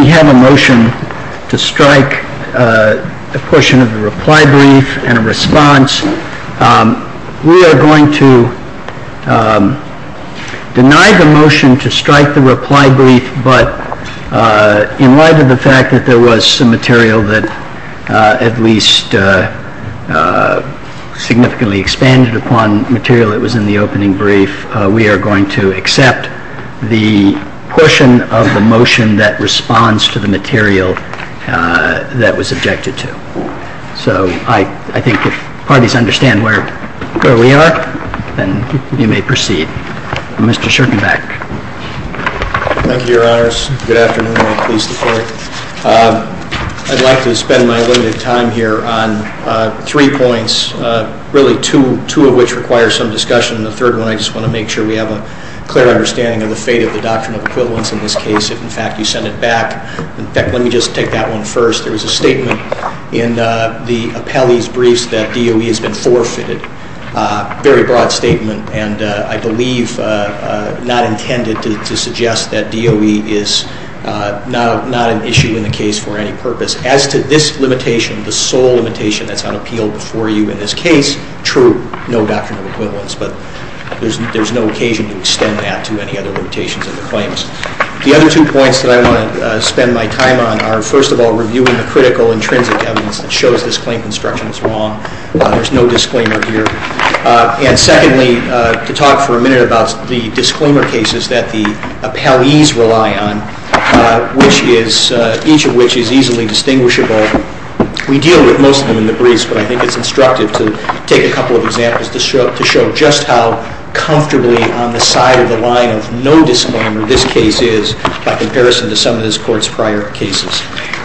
We have a motion to strike a portion of the reply brief and a response. We are going to accept the portion of the motion that responds to the material that was objected to. I would like to spend my limited time here on three points, really two of which require some discussion, and the third one I just want to make sure we have a clear understanding of the fate of the Doctrine of Equivalence in this case, if in fact you send it back. In fact, let me just take that one first. There was a statement in the appellee's briefs that DOE has been forfeited, a very broad statement, and I believe not intended to suggest that DOE is not an issue in the case for any purpose. As to this limitation, the sole limitation that's on appeal before you in this case, true, no Doctrine of Equivalence, but there's no occasion to extend that to any other limitations of the claims. The other two points that I want to spend my time on are, first of all, reviewing the critical intrinsic evidence that shows this claim construction is wrong. There's no disclaimer here. And secondly, to talk for a minute about the disclaimer cases that the appellees rely on, each of which is easily distinguishable. We deal with most of them in the briefs, but I think it's instructive to take a couple of examples to show just how comfortably on the case is by comparison to some of this Court's prior cases.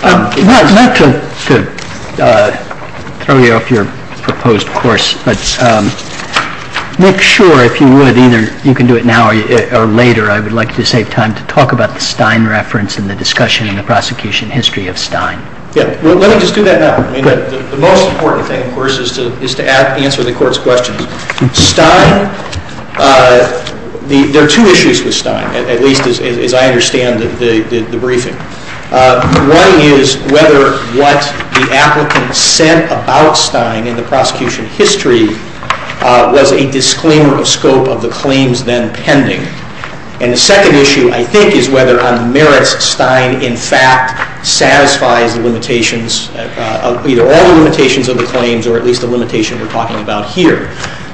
MR. KNEEDLER. I'd like to throw you off your proposed course, but make sure, if you would, either you can do it now or later, I would like to save time to talk about the Stein reference and the discussion in the prosecution history of Stein. MR. KNEEDLER. Yeah. Well, let me just do that now. I mean, the most important thing, of course, is to answer the Court's questions. Stein, there are two issues with Stein, at least as I understand the briefing. One is whether what the applicant said about Stein in the prosecution history was a disclaimer of scope of the claims then pending. And the second issue, I think, is whether on the merits Stein, in fact, satisfies the limitations, either all the limitations of the claims or at least the limitation we're talking about here.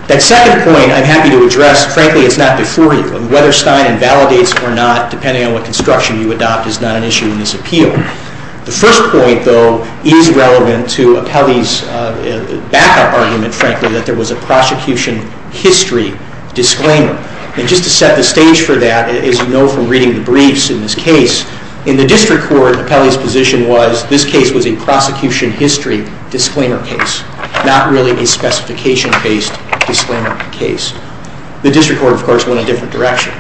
That second point, I'm happy to address. Frankly, it's not before you. Whether Stein invalidates or not, depending on what construction you adopt, is not an issue in this appeal. The first point, though, is relevant to Apelli's backup argument, frankly, that there was a prosecution history disclaimer. And just to set the stage for that, as you know from reading the briefs in this case, in the District Court, Apelli's position was this case was a prosecution history disclaimer case, not really a specification-based disclaimer case. The District Court, of course, went a different direction.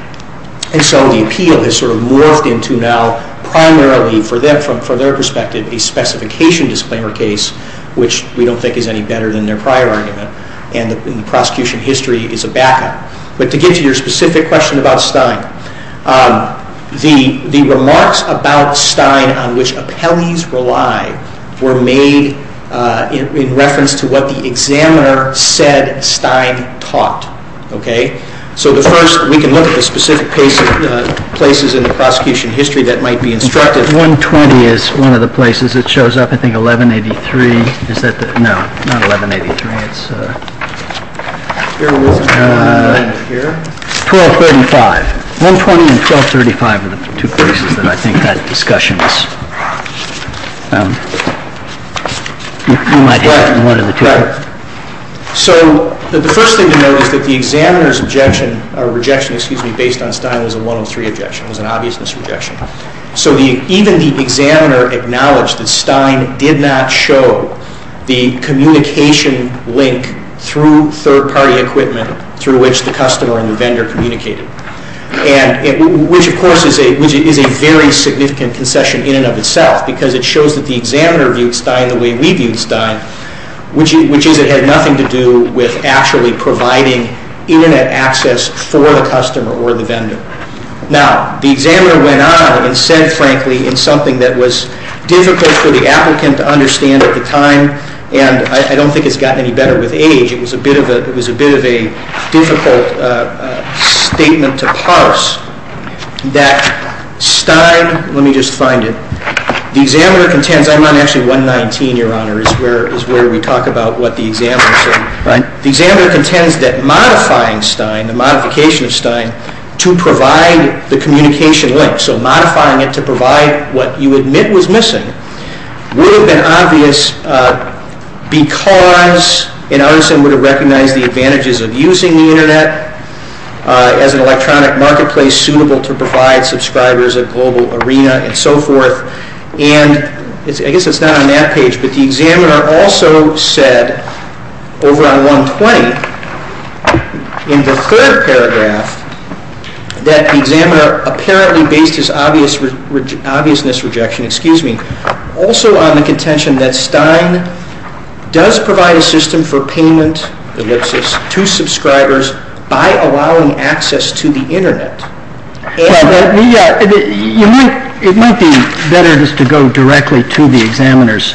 And so the appeal has sort of morphed into now primarily, for them, from their perspective, a specification disclaimer case, which we don't think is any better than their prior argument. And the prosecution history is a backup. But to get to your specific question about Stein, the remarks about Stein on which Apelli's relied were made in reference to what the examiner said Stein taught. Okay? So the first, we can look at the specific places in the prosecution history that might be instructive. 120 is one of the places. It shows up, I think, 1183. Is that the? No, not 1183. It's 1235. 120 and 1235 are the two places that I think that discussion is. You might have one of those. Right. So the first thing to note is that the examiner's objection, or rejection, excuse me, based on Stein was a 103 objection. It was an obviousness rejection. So even the examiner acknowledged that Stein did not show the communication link through third-party equipment through which the customer and the vendor communicated, which, of course, is a very significant concession in and of itself, because it shows that the examiner viewed Stein, which is it had nothing to do with actually providing Internet access for the customer or the vendor. Now, the examiner went on and said, frankly, in something that was difficult for the applicant to understand at the time, and I don't think it's gotten any better with age, it was a bit of a difficult statement to parse, that Stein, let me just find it, the examiner contends I'm on actually 119, Your Honor, is where we talk about what the examiner said. The examiner contends that modifying Stein, the modification of Stein, to provide the communication link, so modifying it to provide what you admit was missing, would have been obvious because it would have recognized the advantages of using the Internet as an electronic marketplace suitable to provide subscribers a global arena and so forth, and I guess it's not on that page, but the examiner also said, over on 120, in the third paragraph, that the examiner apparently based his obviousness rejection also on the contention that Stein does provide a system for payment, ellipsis, to subscribers by allowing access to the Internet. It might be better just to go directly to the examiner's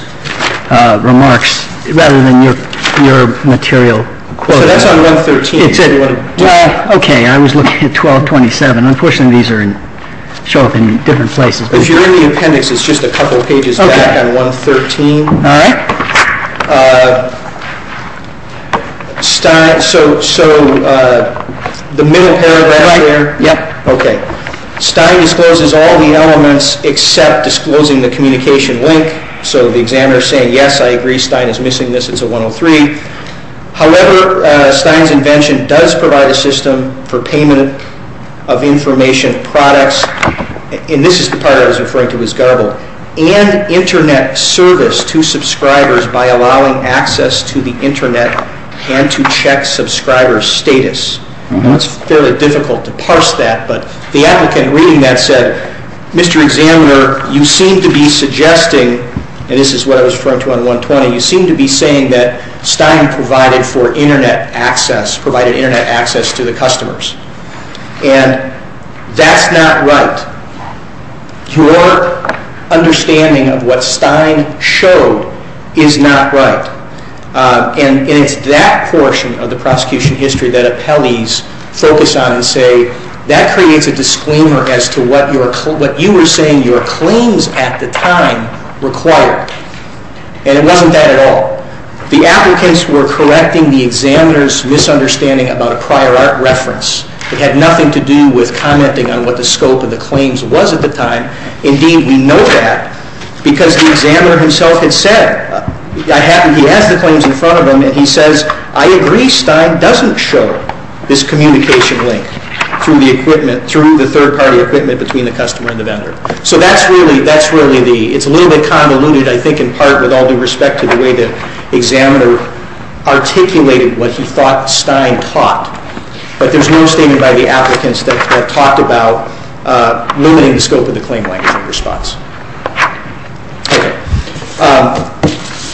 remarks, rather than your material quoting. So that's on 113, if you want to do that. Okay, I was looking at 1227. Unfortunately, these show up in different places. If you're in the appendix, it's just a couple pages back on 113. So the middle paragraph there, Stein discloses all the elements except disclosing the communication link, so the examiner is saying, yes, I agree, Stein is missing this, it's a 103. However, Stein's invention does provide a system for payment of information products, and this is the part I was referring to as garbled, and Internet service to subscribers by allowing access to the Internet and to check subscriber status. It's fairly difficult to parse that, but the applicant reading that said, Mr. Examiner, you seem to be suggesting, and this is what I was referring to on 120, you seem to be saying that Stein provided for Internet access, provided Internet access to the customers. And that's not right. Your understanding of what Stein showed is not right. And it's that portion of the prosecution history that appellees focus on and say, that creates a disclaimer as to what you were saying your claims at the time required. And it wasn't that at all. The applicants were correcting the examiner's misunderstanding about a prior art reference. It had nothing to do with commenting on what the scope of the claims was at the time. Indeed, we know that because the examiner himself had said, he has the claims in front of him, and he says, I agree, Stein doesn't show this communication link through the third party equipment between the customer and the vendor. So that's really, that's really the, it's a little bit convoluted, I think, in part with all due respect to the way the examiner articulated what he thought Stein taught. But there's no statement by the applicants that talked about limiting the scope of the claim language response. Okay.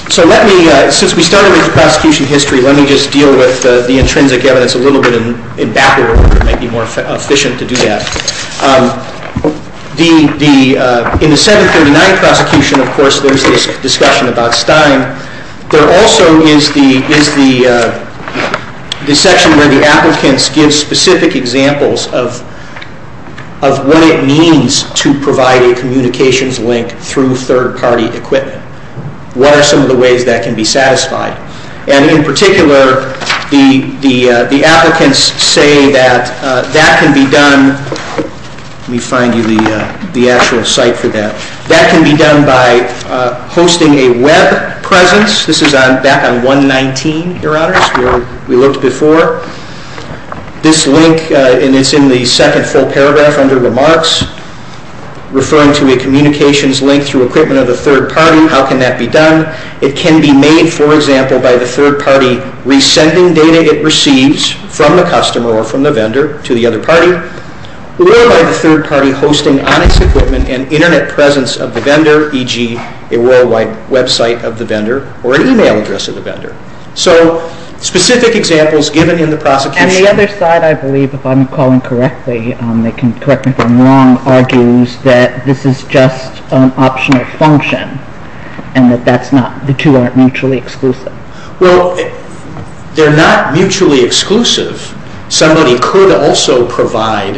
So let me, since we started with the prosecution history, let me just deal with the intrinsic evidence a little bit in back order. It might be more efficient to do that. In the 739 prosecution, of course, there's this discussion about Stein. There also is the section where the applicants give specific examples of what it means to provide a communications link through third party equipment. What are some of the ways that can be satisfied? And in particular, the applicants say that that can be done, let me find you the actual site for that. That can be done by hosting a web presence. This is back on 119, Your Honors, where we looked before. This link, and it's in the second full paragraph under remarks, referring to a communications link through equipment of the third party. How can that be done? It can be made, for example, by the third party resending data it receives from the customer or from the vendor to the other party, or by the third party hosting on its equipment an internet presence of the vendor, e.g., a worldwide website of the vendor or an email address of the vendor. So specific examples given in the prosecution. And the other side, I believe, if I'm calling correctly, they can correct me if I'm wrong, argues that this is just an optional function and that the two aren't mutually exclusive. Well, they're not mutually exclusive. Somebody could also provide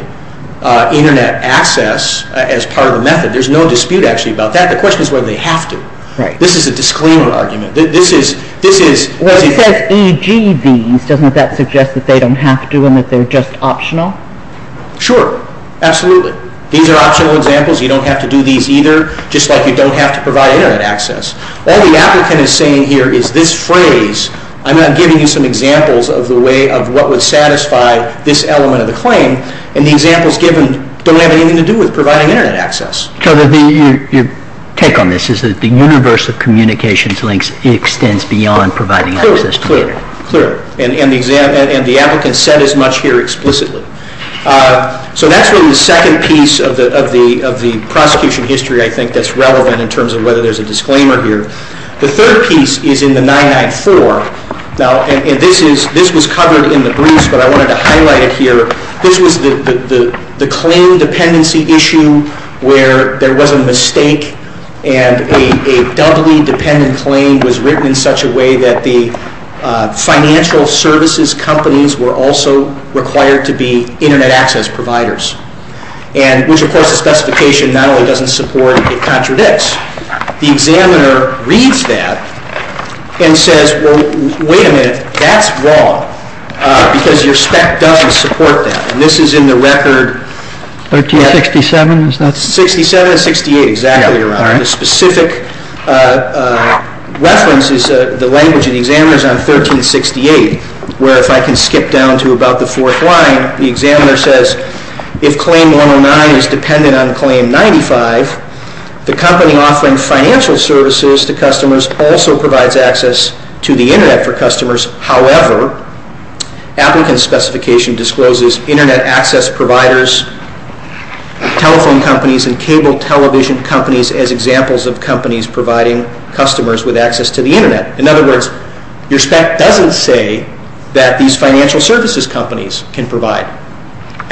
internet access as part of the method. There's no dispute, actually, about that. The question is whether they have to. Right. This is a disclaimer argument. This is... Well, he says e.g. these. Doesn't that suggest that they don't have to and that they're just optional? Sure. Absolutely. These are optional examples. You don't have to do these either, just like you don't have to provide internet access. All the applicant is saying here is this phrase. I'm not giving you some examples of the way of what would satisfy this element of the claim. And the examples given don't have anything to do with providing internet access. So your take on this is that the universe of communications links extends beyond providing access to the internet. Clear. Clear. And the applicant said as much here explicitly. So that's really the second piece of the prosecution history, I think, that's relevant in terms of whether there's a disclaimer here. The third piece is in the 994. Now, and this was covered in the briefs, but I wanted to highlight it here. This was the claim dependency issue where there was a mistake and a doubly dependent claim was written in such a way that the financial services companies were also required to be internet access providers, which, of course, the specification not only doesn't support, it contradicts. The examiner reads that and says, well, wait a minute, that's wrong because your spec doesn't support that. And this is in the record. 1367, is that? 67 and 68, exactly, Your Honor. The specific reference is the language in the examiner's on 1368, where if I can skip down to about the fourth line, the examiner says if claim 109 is dependent on claim 95, the company offering financial services to customers also provides access to the internet for customers. However, applicant specification discloses internet access providers, telephone companies and cable television companies as examples of companies providing customers with access to the internet. In other words, your spec doesn't say that these financial services companies can provide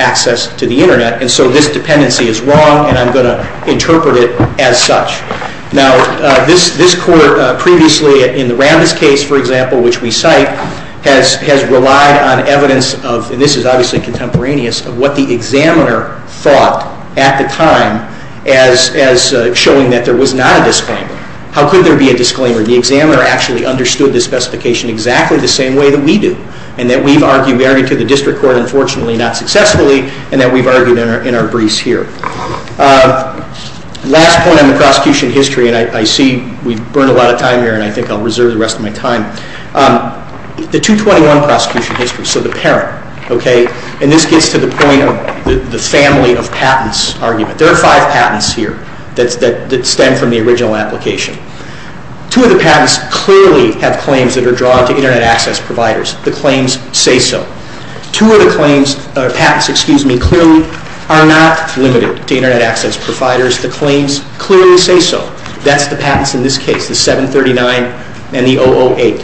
access to the internet and so this dependency is wrong and I'm going to interpret it as such. Now, this court previously in the Rambis case, for example, which we cite, has relied on evidence of, and this is obviously contemporaneous, of what the examiner thought at the time as showing that there was not a disclaimer. How could there be a disclaimer? The examiner actually understood the specification exactly the same way that we do, and that we've argued, we argued to the district court, unfortunately not successfully, and that we've argued in our briefs here. Last point on the prosecution history, and I see we've burned a lot of time here and I think I'll reserve the rest of my time, the 221 prosecution history, so the parent, okay, and this gets to the point of the family of patents argument. There are five patents here that stem from the original application. Two of the patents clearly have claims that are drawn to internet access providers. The claims say so. Two of the claims, or patents, excuse me, clearly are not limited to internet access providers. The claims clearly say so. That's the patents in this case, the 739 and the 008.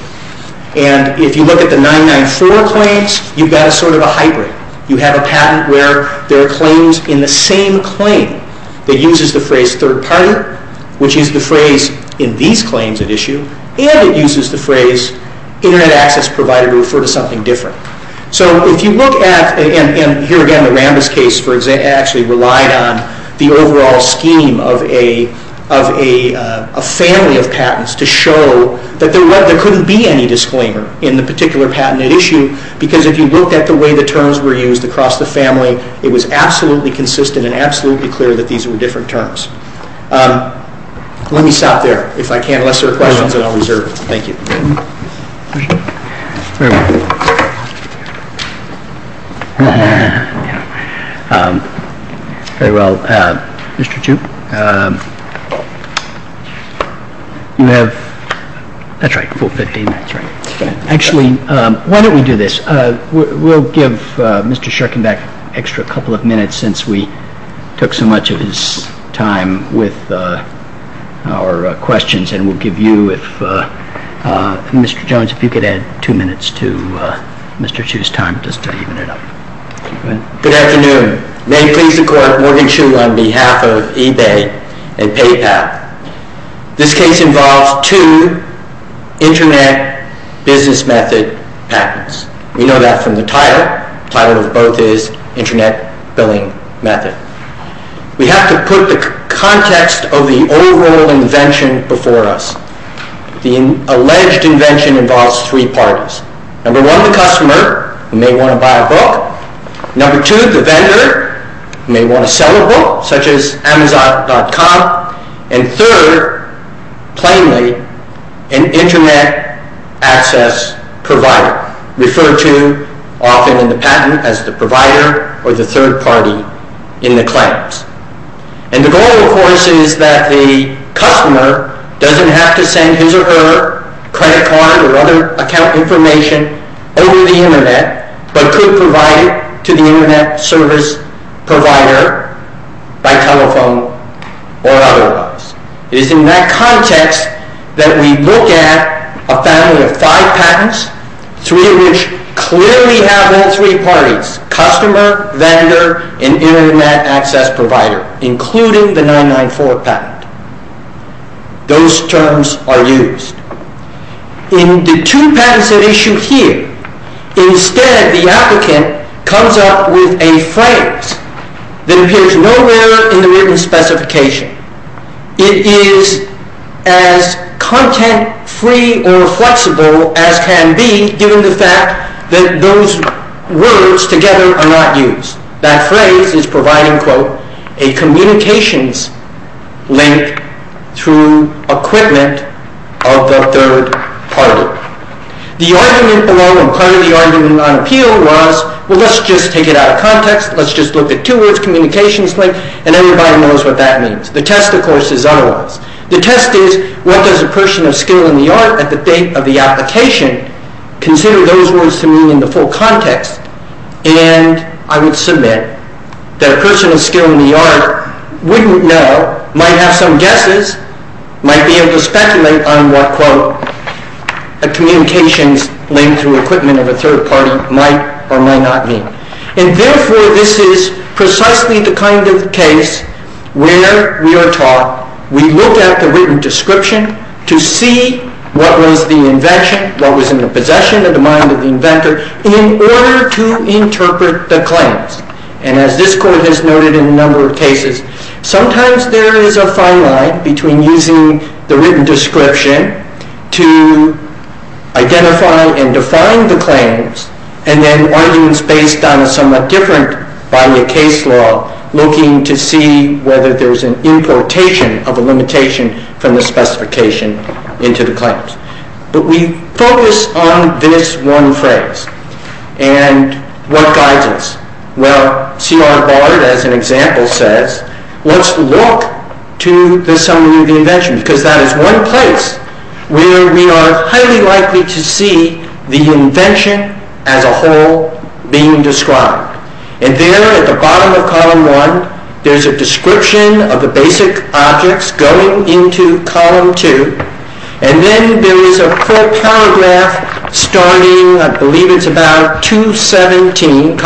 And if you look at the 994 claims, you've got sort of a hybrid. You have a patent where there are claims in the same claim that uses the phrase third party, which is the phrase in these claims at issue, and it uses the phrase internet access provider to refer to something different. So if you look at, and here again the Rambis case actually relied on the overall scheme of a family of patents to show that there couldn't be any disclaimer in the particular patent at issue, because if you look at the way the terms were used across the family, it was absolutely consistent and absolutely clear that these were different terms. Let me stop there. If I can, unless there are questions, then I'll reserve. Thank you. Actually, why don't we do this? We'll give Mr. Shurkin back an extra couple of minutes since we took so much of his time with our questions, and we'll give you if Mr. Jones, if you could add two minutes to Mr. Chu's time just to even it up. Go ahead. Good afternoon. May it please the court, Morgan Chu on behalf of eBay and PayPal. This case involves two internet business method patents. We know that from the title. The title of both is internet billing method. We have to put the context of the overall invention before us. The alleged invention involves three parties. Number one, the customer, who may want to buy a book. Number two, the vendor, who may want to sell a book, such as Amazon.com. And third, plainly, an internet access provider, referred to often in the patent as the provider or the third party in the claims. And the goal, of course, is that the customer doesn't have to send his or her credit card or other account information over the internet, but could provide it to the internet service provider by telephone or otherwise. It is in that context that we look at a family of five patents, three of which clearly have all three parties, customer, vendor, and internet access provider, including the 994 patent. Those terms are used. In the two patents at issue here, instead the applicant comes up with a phrase that appears nowhere in the written specification. It is as content-free or flexible as can be, given the fact that those words together are not used. That phrase is providing, quote, a communications link through equipment of the third party. The argument along with part of the argument on appeal was, well, let's just take it out of context. Let's just look at two words, communications link, and everybody knows what that means. The test, of course, is otherwise. The test is, what does a person of skill in the art at the date of the application consider those words to mean in the full context? And I would submit that a person of skill in the art wouldn't know, might have some guesses, might be able to speculate on what, quote, a communications link through equipment of a third party might or might not mean. And therefore, this is precisely the kind of case where we are taught, we look at the written description to see what was the invention, what was in the possession of the mind of the inventor, in order to interpret the claims. And as this Court has noted in a number of cases, sometimes there is a fine line between using the written description to identify and define the claims, and then arguments based on a somewhat different body of case law, looking to see whether there's an importation of a limitation from the specification into the claims. But we focus on this one phrase. And what guides us? Well, C.R. Bard, as an example, says, let's look to the summary of the invention. Because that is one place where we are highly likely to see the invention as a whole being described. And there at the bottom of column one, there's a description of the basic objects going into column two. And then there is a full paragraph starting, I believe it's about 217.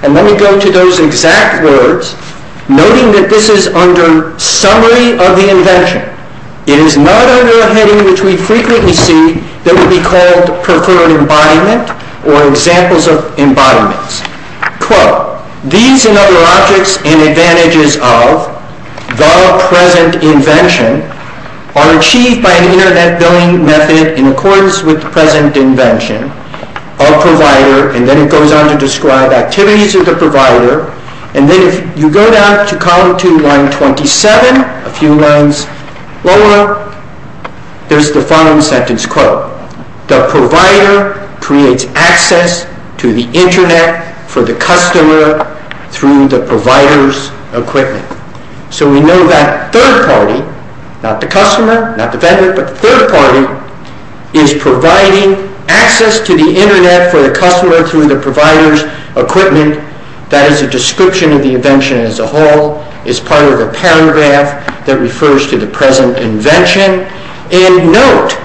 And then we go to those exact words, noting that this is under summary of the invention. It is not under a heading which we frequently see that would be called preferred embodiment or examples of embodiments. Quote, these and other objects and advantages of the present invention are achieved by an object. And then it goes on to describe activities of the provider. And then if you go down to column two, line 27, a few lines lower, there's the following sentence quote. The provider creates access to the internet for the customer through the provider's equipment. So we know that third party, not the customer, not the vendor, but the third party, is providing access to the internet for the customer through the provider's equipment. That is a description of the invention as a whole. It's part of a paragraph that refers to the present invention. And note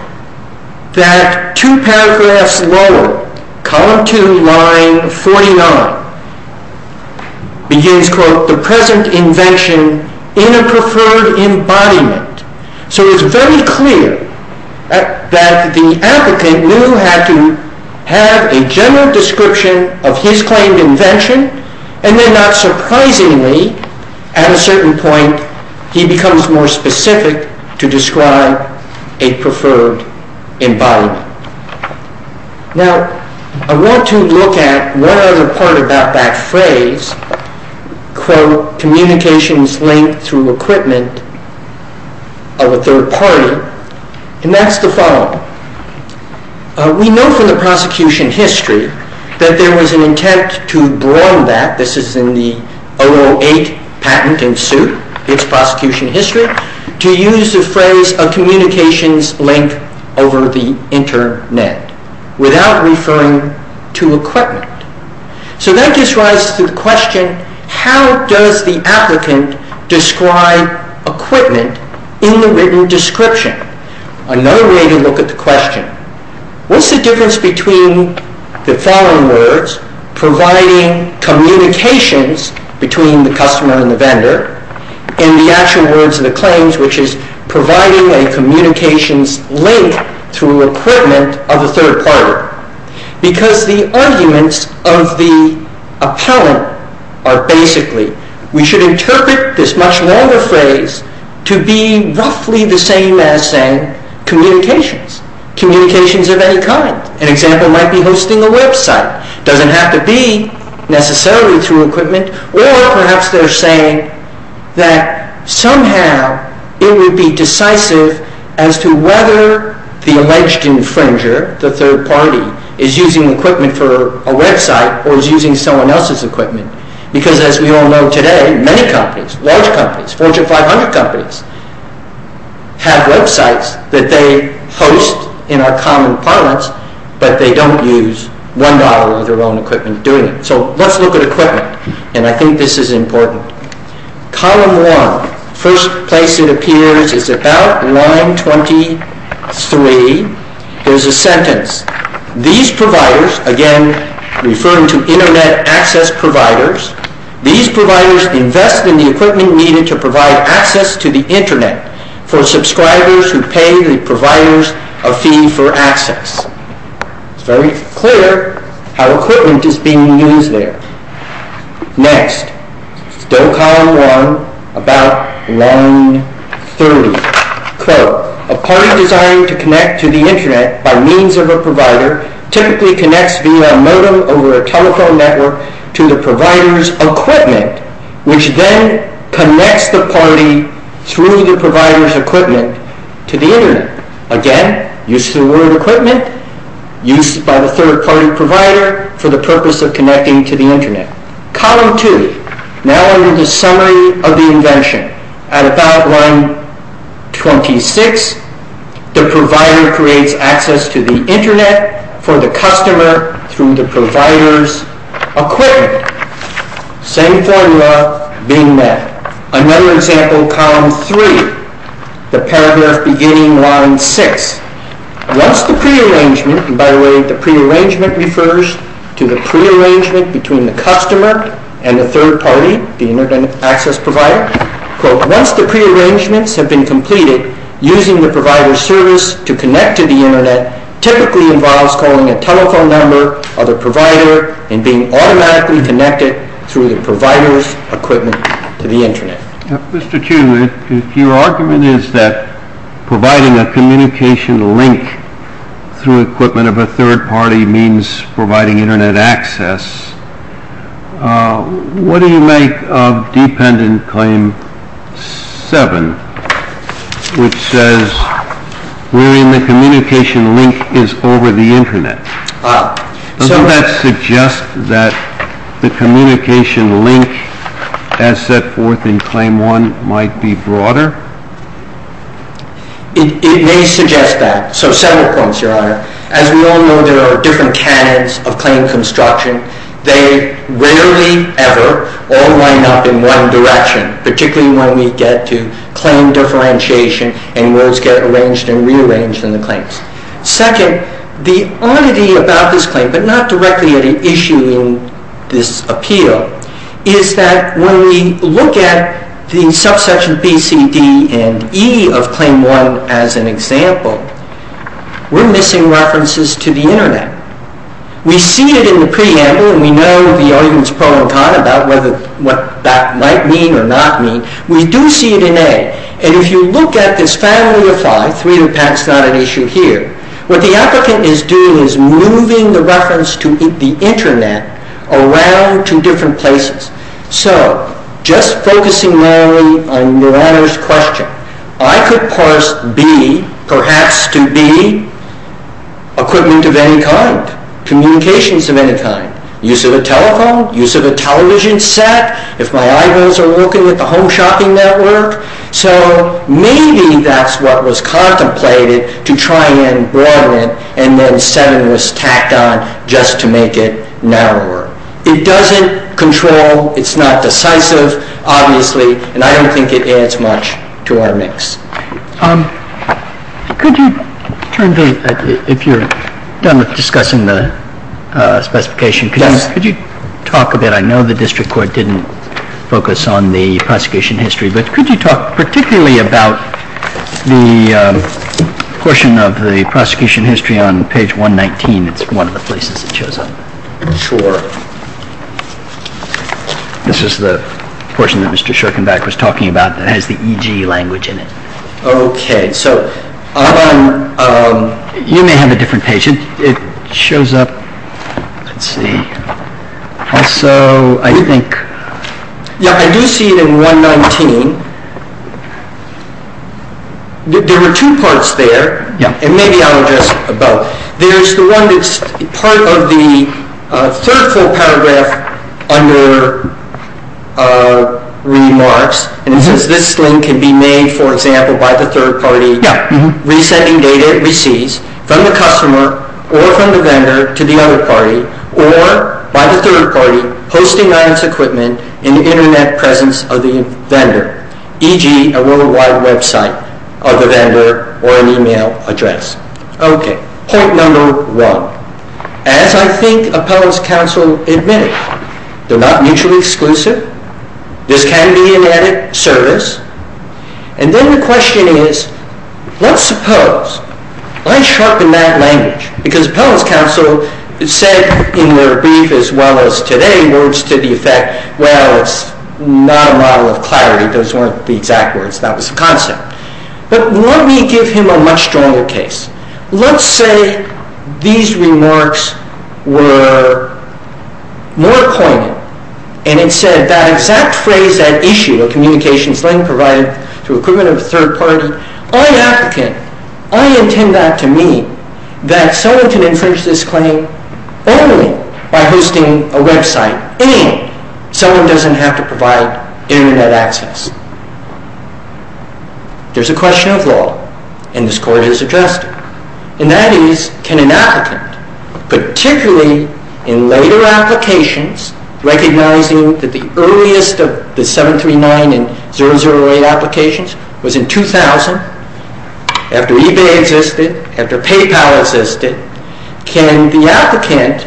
that two paragraphs lower, column two, line 49, begins quote, the present invention in a preferred embodiment. So it's very clear that the applicant knew who had to have a general description of his claimed invention. And then not surprisingly, at a certain point, he becomes more specific to describe a preferred embodiment. Now, I want to look at one other part about that phrase, quote, communications linked through equipment of a third party. And that's the following. We know from the prosecution history that there was an intent to broaden that. This is in the 008 patent in suit, its prosecution history, to use the phrase a communications link over the internet without referring to equipment. So that just rises to the question, how does the applicant describe equipment in the written description? Another way to look at the question, what's the difference between the following words, providing communications between the customer and the vendor, and the actual words of the claims, which is providing a communications link through equipment of a third party? Because the arguments of the appellant are basically, we should interpret this much longer phrase to be roughly the same as saying communications, communications of any kind. An example might be hosting a website. It doesn't have to be necessarily through equipment. Or perhaps they're saying that somehow it would be decisive as to whether the alleged infringer, the third party, is using equipment for a website or is using someone else's equipment. Because as we all know today, many companies, large companies, Fortune 500 companies, have websites that they host in our common parlance, but they don't use $1 of their own equipment doing it. So let's look at equipment. And I think this is important. Column 1, first place it appears is about line 23. There's a sentence. These providers, again referring to Internet access providers, these providers invest in the equipment needed to provide access to the Internet for subscribers who pay the providers a fee for access. It's very clear how equipment is being used there. Next, still column 1, about line 30. Quote, a party designed to connect to the Internet by means of a provider typically connects via a modem over a telephone network to the provider's equipment, which then connects the party through the provider's equipment to the Internet. Again, use of the word equipment used by the third party provider for the purpose of connecting to the Internet. Column 2, now in the summary of the invention, at about line 26, the provider creates access to the Internet for the customer through the provider's equipment. Same formula being met. Another example, column 3, the paragraph beginning line 6. Once the prearrangement, and by the way, the prearrangement refers to the prearrangement between the customer and the third party, the Internet access provider. Quote, once the prearrangements have been completed, using the provider's service to connect to the Internet typically involves calling a telephone number of the provider and being automatically connected through the provider's equipment to the Internet. Mr. Chu, if your argument is that providing a communication link through equipment of a third party means providing Internet access, what do you make of dependent claim 7, which says wherein the communication link is over the Internet? Does that suggest that the communication link as set forth in claim 1 might be broader? It may suggest that. So several points, Your Honor. As we all know, there are different canons of claim construction. They rarely ever all line up in one direction, particularly when we get to claim differentiation and words get arranged and rearranged in the claims. Second, the oddity about this claim, but not directly at issue in this appeal, is that when we look at the subsection B, C, D, and E of claim 1 as an example, we're missing references to the Internet. We see it in the preamble, and we know the arguments pro and con about what that might mean or not mean. We do see it in A, and if you look at this family of five, three impacts, not an issue here, what the applicant is doing is moving the reference to the Internet around to different places. So just focusing mainly on Your Honor's question, I could parse B perhaps to be equipment of any kind, communications of any kind, use of a telephone, use of a television set. If my eyebrows are looking at the home shopping network. So maybe that's what was contemplated to try and broaden it, and then seven was tacked on just to make it narrower. It doesn't control. It's not decisive, obviously, and I don't think it adds much to our mix. Could you turn to, if you're done discussing the specification, could you talk a bit, I know the District Court didn't focus on the prosecution history, but could you talk particularly about the portion of the prosecution history on page 119? It's one of the places it shows up. Sure. This is the portion that Mr. Schorkenbach was talking about that has the EGE language in it. Okay. So you may have a different page. It shows up, let's see. Also, I think. Yeah, I do see it in 119. There are two parts there, and maybe I'll address both. There's the one that's part of the third full paragraph under remarks, and it says this link can be made, for example, by the third party. Yeah. Resending data it receives from the customer or from the vendor to the other party, or by the third party posting on its equipment in the internet presence of the vendor, e.g., a worldwide website of the vendor or an email address. Okay. Point number one. As I think appellants counsel admitted, they're not mutually exclusive. This can be an added service. And then the question is, let's suppose I sharpen that language, because appellants counsel said in their brief, as well as today, words to the effect, well, it's not a model of clarity. Those weren't the exact words. That was the concept. But let me give him a much stronger case. Let's say these remarks were more poignant, and it said that exact phrase, that issue, a communications link provided through equipment of a third party, I, an applicant, I intend that to mean that someone can infringe this claim only by hosting a website. Anyone. Someone doesn't have to provide internet access. There's a question of law, and this Court has addressed it. And that is, can an applicant, particularly in later applications, recognizing that the earliest of the 739 and 008 applications was in 2000, after eBay existed, after PayPal existed, can the applicant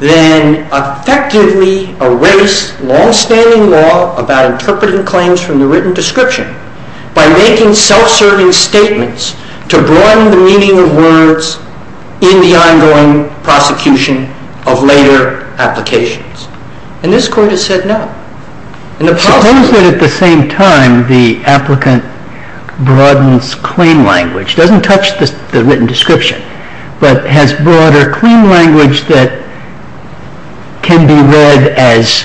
then effectively erase longstanding law about interpreting claims from the written description by making self-serving statements to broaden the meaning of words in the ongoing prosecution of later applications? And this Court has said no. And the problem is that at the same time, the applicant broadens claim language. It doesn't touch the written description, but has broader claim language that can be interpreted as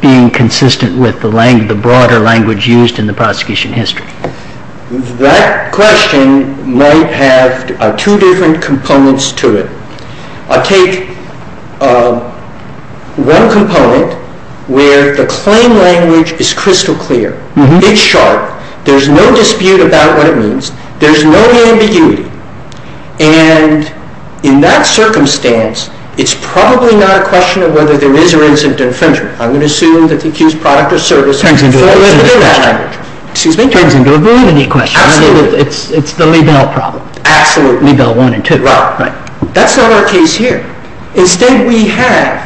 being consistent with the broader language used in the prosecution history. That question might have two different components to it. I'll take one component where the claim language is crystal clear. It's sharp. There's no dispute about what it means. There's no ambiguity. And in that circumstance, it's probably not a question of whether there is or isn't an infringement. I'm going to assume that the accused product or service of the infringement of that language. Excuse me? It turns into a validity question. Absolutely. It's the Liebel problem. Absolutely. Liebel 1 and 2. Right. That's not our case here. Instead, we have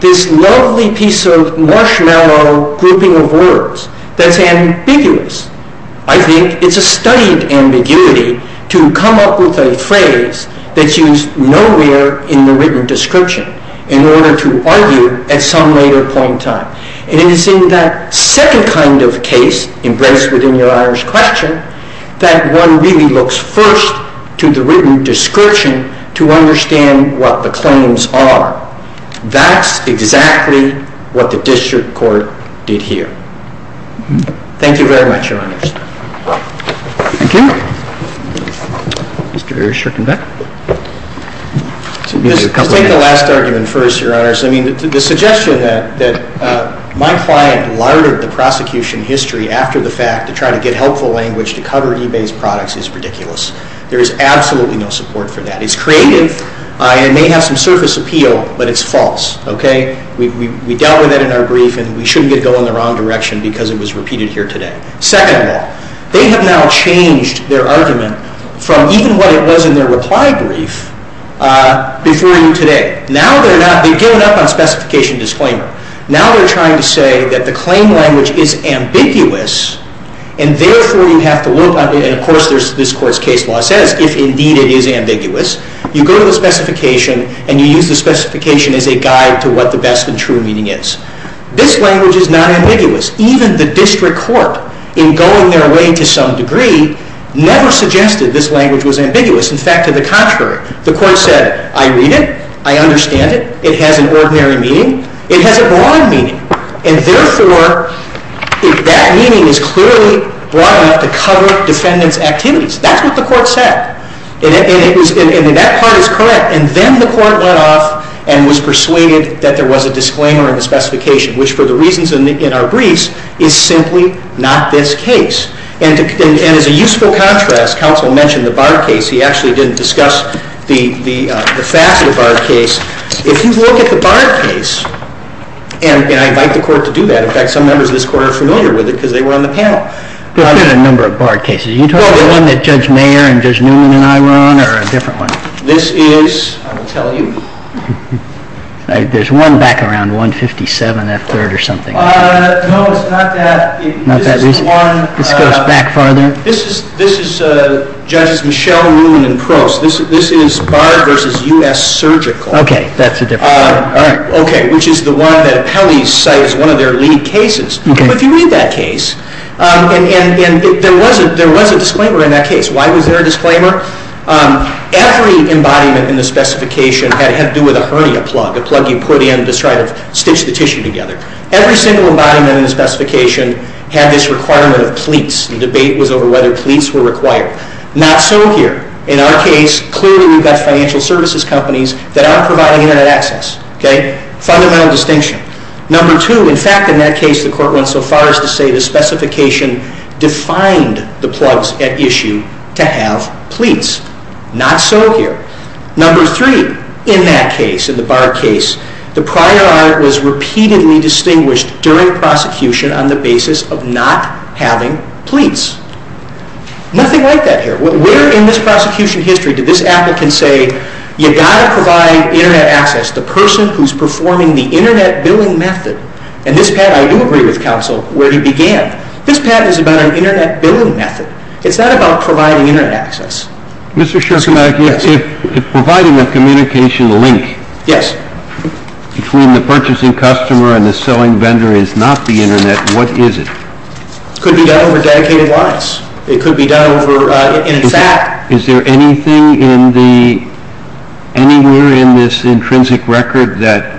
this lovely piece of marshmallow grouping of words that's ambiguous. I think it's a studied ambiguity to come up with a phrase that's used nowhere in the written description in order to argue at some later point in time. And it's in that second kind of case, embraced within your Irish question, that one really looks first to the written description to understand what the claims are. That's exactly what the district court did here. Thank you very much, Your Honors. Thank you. Mr. Irish, you're coming back? Let's take the last argument first, Your Honors. I mean, the suggestion that my client lartered the prosecution history after the fact to try to get helpful language to cover eBay's products is ridiculous. There is absolutely no support for that. It's creative and may have some surface appeal, but it's false. Okay? We dealt with that in our brief, and we shouldn't get it going in the wrong direction because it was repeated here today. Second law. They have now changed their argument from even what it was in their reply brief before you today. Now they're not. They've given up on specification disclaimer. Now they're trying to say that the claim language is ambiguous, and therefore you have to look at it. And, of course, this court's case law says, if indeed it is ambiguous, you go to the specification and you use the specification as a guide to what the best and true meaning is. This language is not ambiguous. Even the district court, in going their way to some degree, never suggested this language was ambiguous. In fact, to the contrary. The court said, I read it. I understand it. It has an ordinary meaning. It has a broad meaning. And, therefore, that meaning is clearly broad enough to cover defendant's activities. That's what the court said. And that part is correct. And then the court went off and was persuaded that there was a disclaimer in the specification, which, for the reasons in our briefs, is simply not this case. And as a useful contrast, counsel mentioned the Bard case. He actually didn't discuss the facet of the Bard case. If you look at the Bard case, and I invite the court to do that. In fact, some members of this court are familiar with it because they were on the panel. I've been on a number of Bard cases. Are you talking about the one that Judge Mayer and Judge Newman and I were on, or a different one? This is, I will tell you. There's one back around 157 F. 3rd or something. No, it's not that. Not that recent? This is one. This goes back farther? This is, Judges Michelle Newman and Prost. This is Bard versus U.S. Surgical. Okay, that's a different one. All right. Okay, which is the one that appellees cite as one of their lead cases. If you read that case, and there was a disclaimer in that case. Why was there a disclaimer? Every embodiment in the specification had to do with a hernia plug, a plug you put in to try to stitch the tissue together. Every single embodiment in the specification had this requirement of pleats. The debate was over whether pleats were required. Not so here. In our case, clearly we've got financial services companies that are providing Internet access. Okay? Fundamental distinction. Number two. In fact, in that case, the court went so far as to say the specification defined the plugs at issue to have pleats. Not so here. Number three. In that case, in the Bard case, the prior art was repeatedly distinguished during prosecution on the basis of not having pleats. Nothing like that here. Where in this prosecution history did this applicant say, you've got to provide Internet access. The person who's performing the Internet billing method. And this, Pat, I do agree with counsel where he began. This, Pat, is about an Internet billing method. It's not about providing Internet access. Mr. Schorkenbeck, if providing a communication link between the purchasing customer and the selling vendor is not the Internet, what is it? It could be done over dedicated lines. It could be done over, in fact. Is there anything in the, anywhere in this intrinsic record that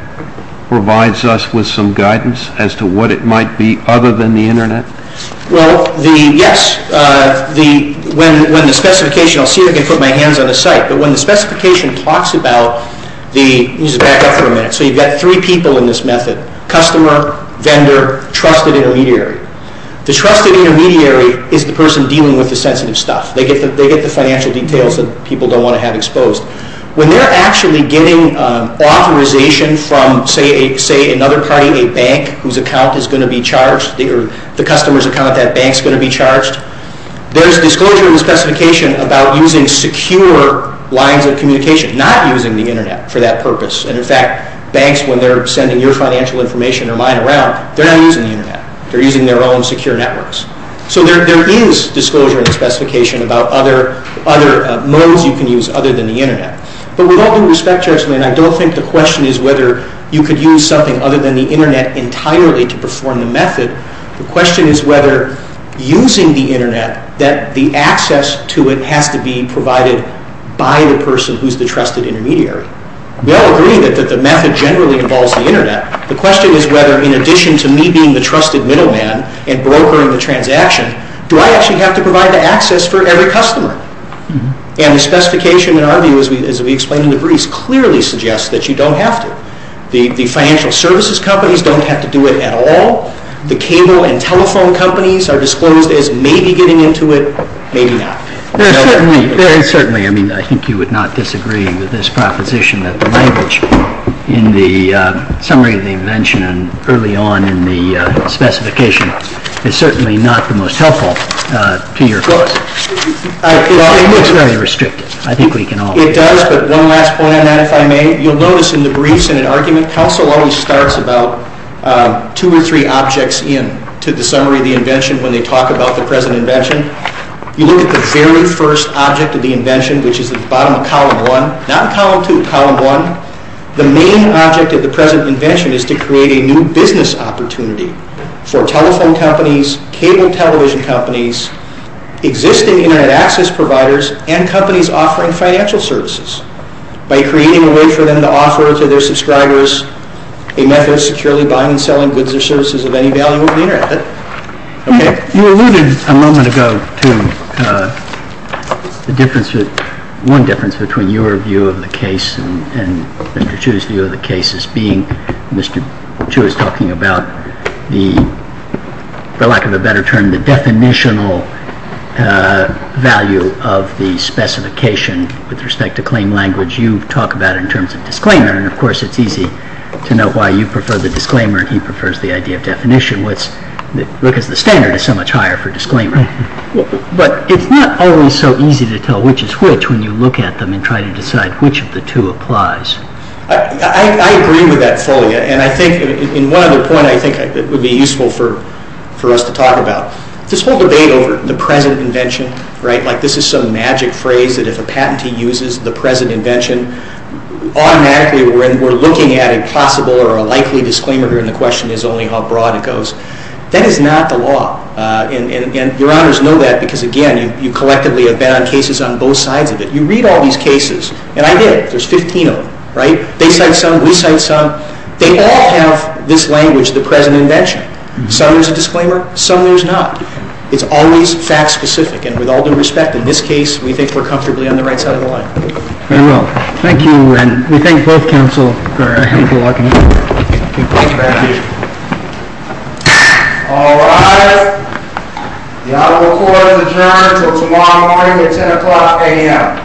provides us with some guidance as to what it might be other than the Internet? Well, the, yes. The, when the specification, I'll see if I can put my hands on the site. But when the specification talks about the, let me just back up for a minute. So you've got three people in this method. Customer, vendor, trusted intermediary. The trusted intermediary is the person dealing with the sensitive stuff. They get the financial details that people don't want to have exposed. When they're actually getting authorization from, say, another party, a bank whose account is going to be charged, or the customer's account that bank's going to be charged, there's disclosure in the specification about using secure lines of communication, not using the Internet for that purpose. And, in fact, banks, when they're sending your financial information or mine around, they're not using the Internet. They're using their own secure networks. So there is disclosure in the specification about other modes you can use other than the Internet. But with all due respect, gentlemen, I don't think the question is whether you could use something other than the Internet entirely to perform the method. The question is whether using the Internet, that the access to it has to be provided by the person who's the trusted intermediary. We all agree that the method generally involves the Internet. The question is whether, in addition to me being the trusted middleman and brokering the transaction, do I actually have to provide the access for every customer? And the specification, in our view, as we explained in the brief, clearly suggests that you don't have to. The financial services companies don't have to do it at all. The cable and telephone companies are disclosed as maybe getting into it, maybe not. There is certainly, I mean, I think you would not disagree with this proposition that the language in the summary of the invention and early on in the specification is certainly not the most helpful to your folks. It looks very restrictive. I think we can all agree. It does, but one last point on that, if I may. You'll notice in the briefs in an argument, counsel always starts about two or three objects in to the summary of the invention when they talk about the present invention. You look at the very first object of the invention, which is at the bottom of column one, not column two, column one. The main object of the present invention is to create a new business opportunity for telephone companies, cable television companies, existing Internet access providers and companies offering financial services by creating a way for them to offer to their subscribers a method of securely buying and selling goods or services of any value over the Internet. You alluded a moment ago to one difference between your view of the case and Mr. Chu's view of the case as being Mr. Chu is talking about the, for lack of a better term, the definitional value of the specification with respect to claim language. You talk about it in terms of disclaimer, and of course it's easy to know why you prefer the disclaimer and he prefers the idea of definition. Because the standard is so much higher for disclaimer. But it's not always so easy to tell which is which when you look at them and try to decide which of the two applies. I agree with that fully, and I think in one other point I think it would be useful for us to talk about. This whole debate over the present invention, right, like this is some magic phrase that if a patentee uses the present invention, automatically we're looking at a possible or a likely disclaimer, and the question is only how broad it goes. That is not the law. And your honors know that because, again, you collectively have been on cases on both sides of it. You read all these cases, and I did. There's 15 of them, right? They cite some, we cite some. They all have this language, the present invention. Some there's a disclaimer, some there's not. It's always fact specific. And with all due respect, in this case we think we're comfortably on the right side of the line. Very well. Thank you, and we thank both counsel for a helpful argument. Thank you. Thank you. All rise. The honorable court is adjourned until tomorrow morning at 10 o'clock a.m.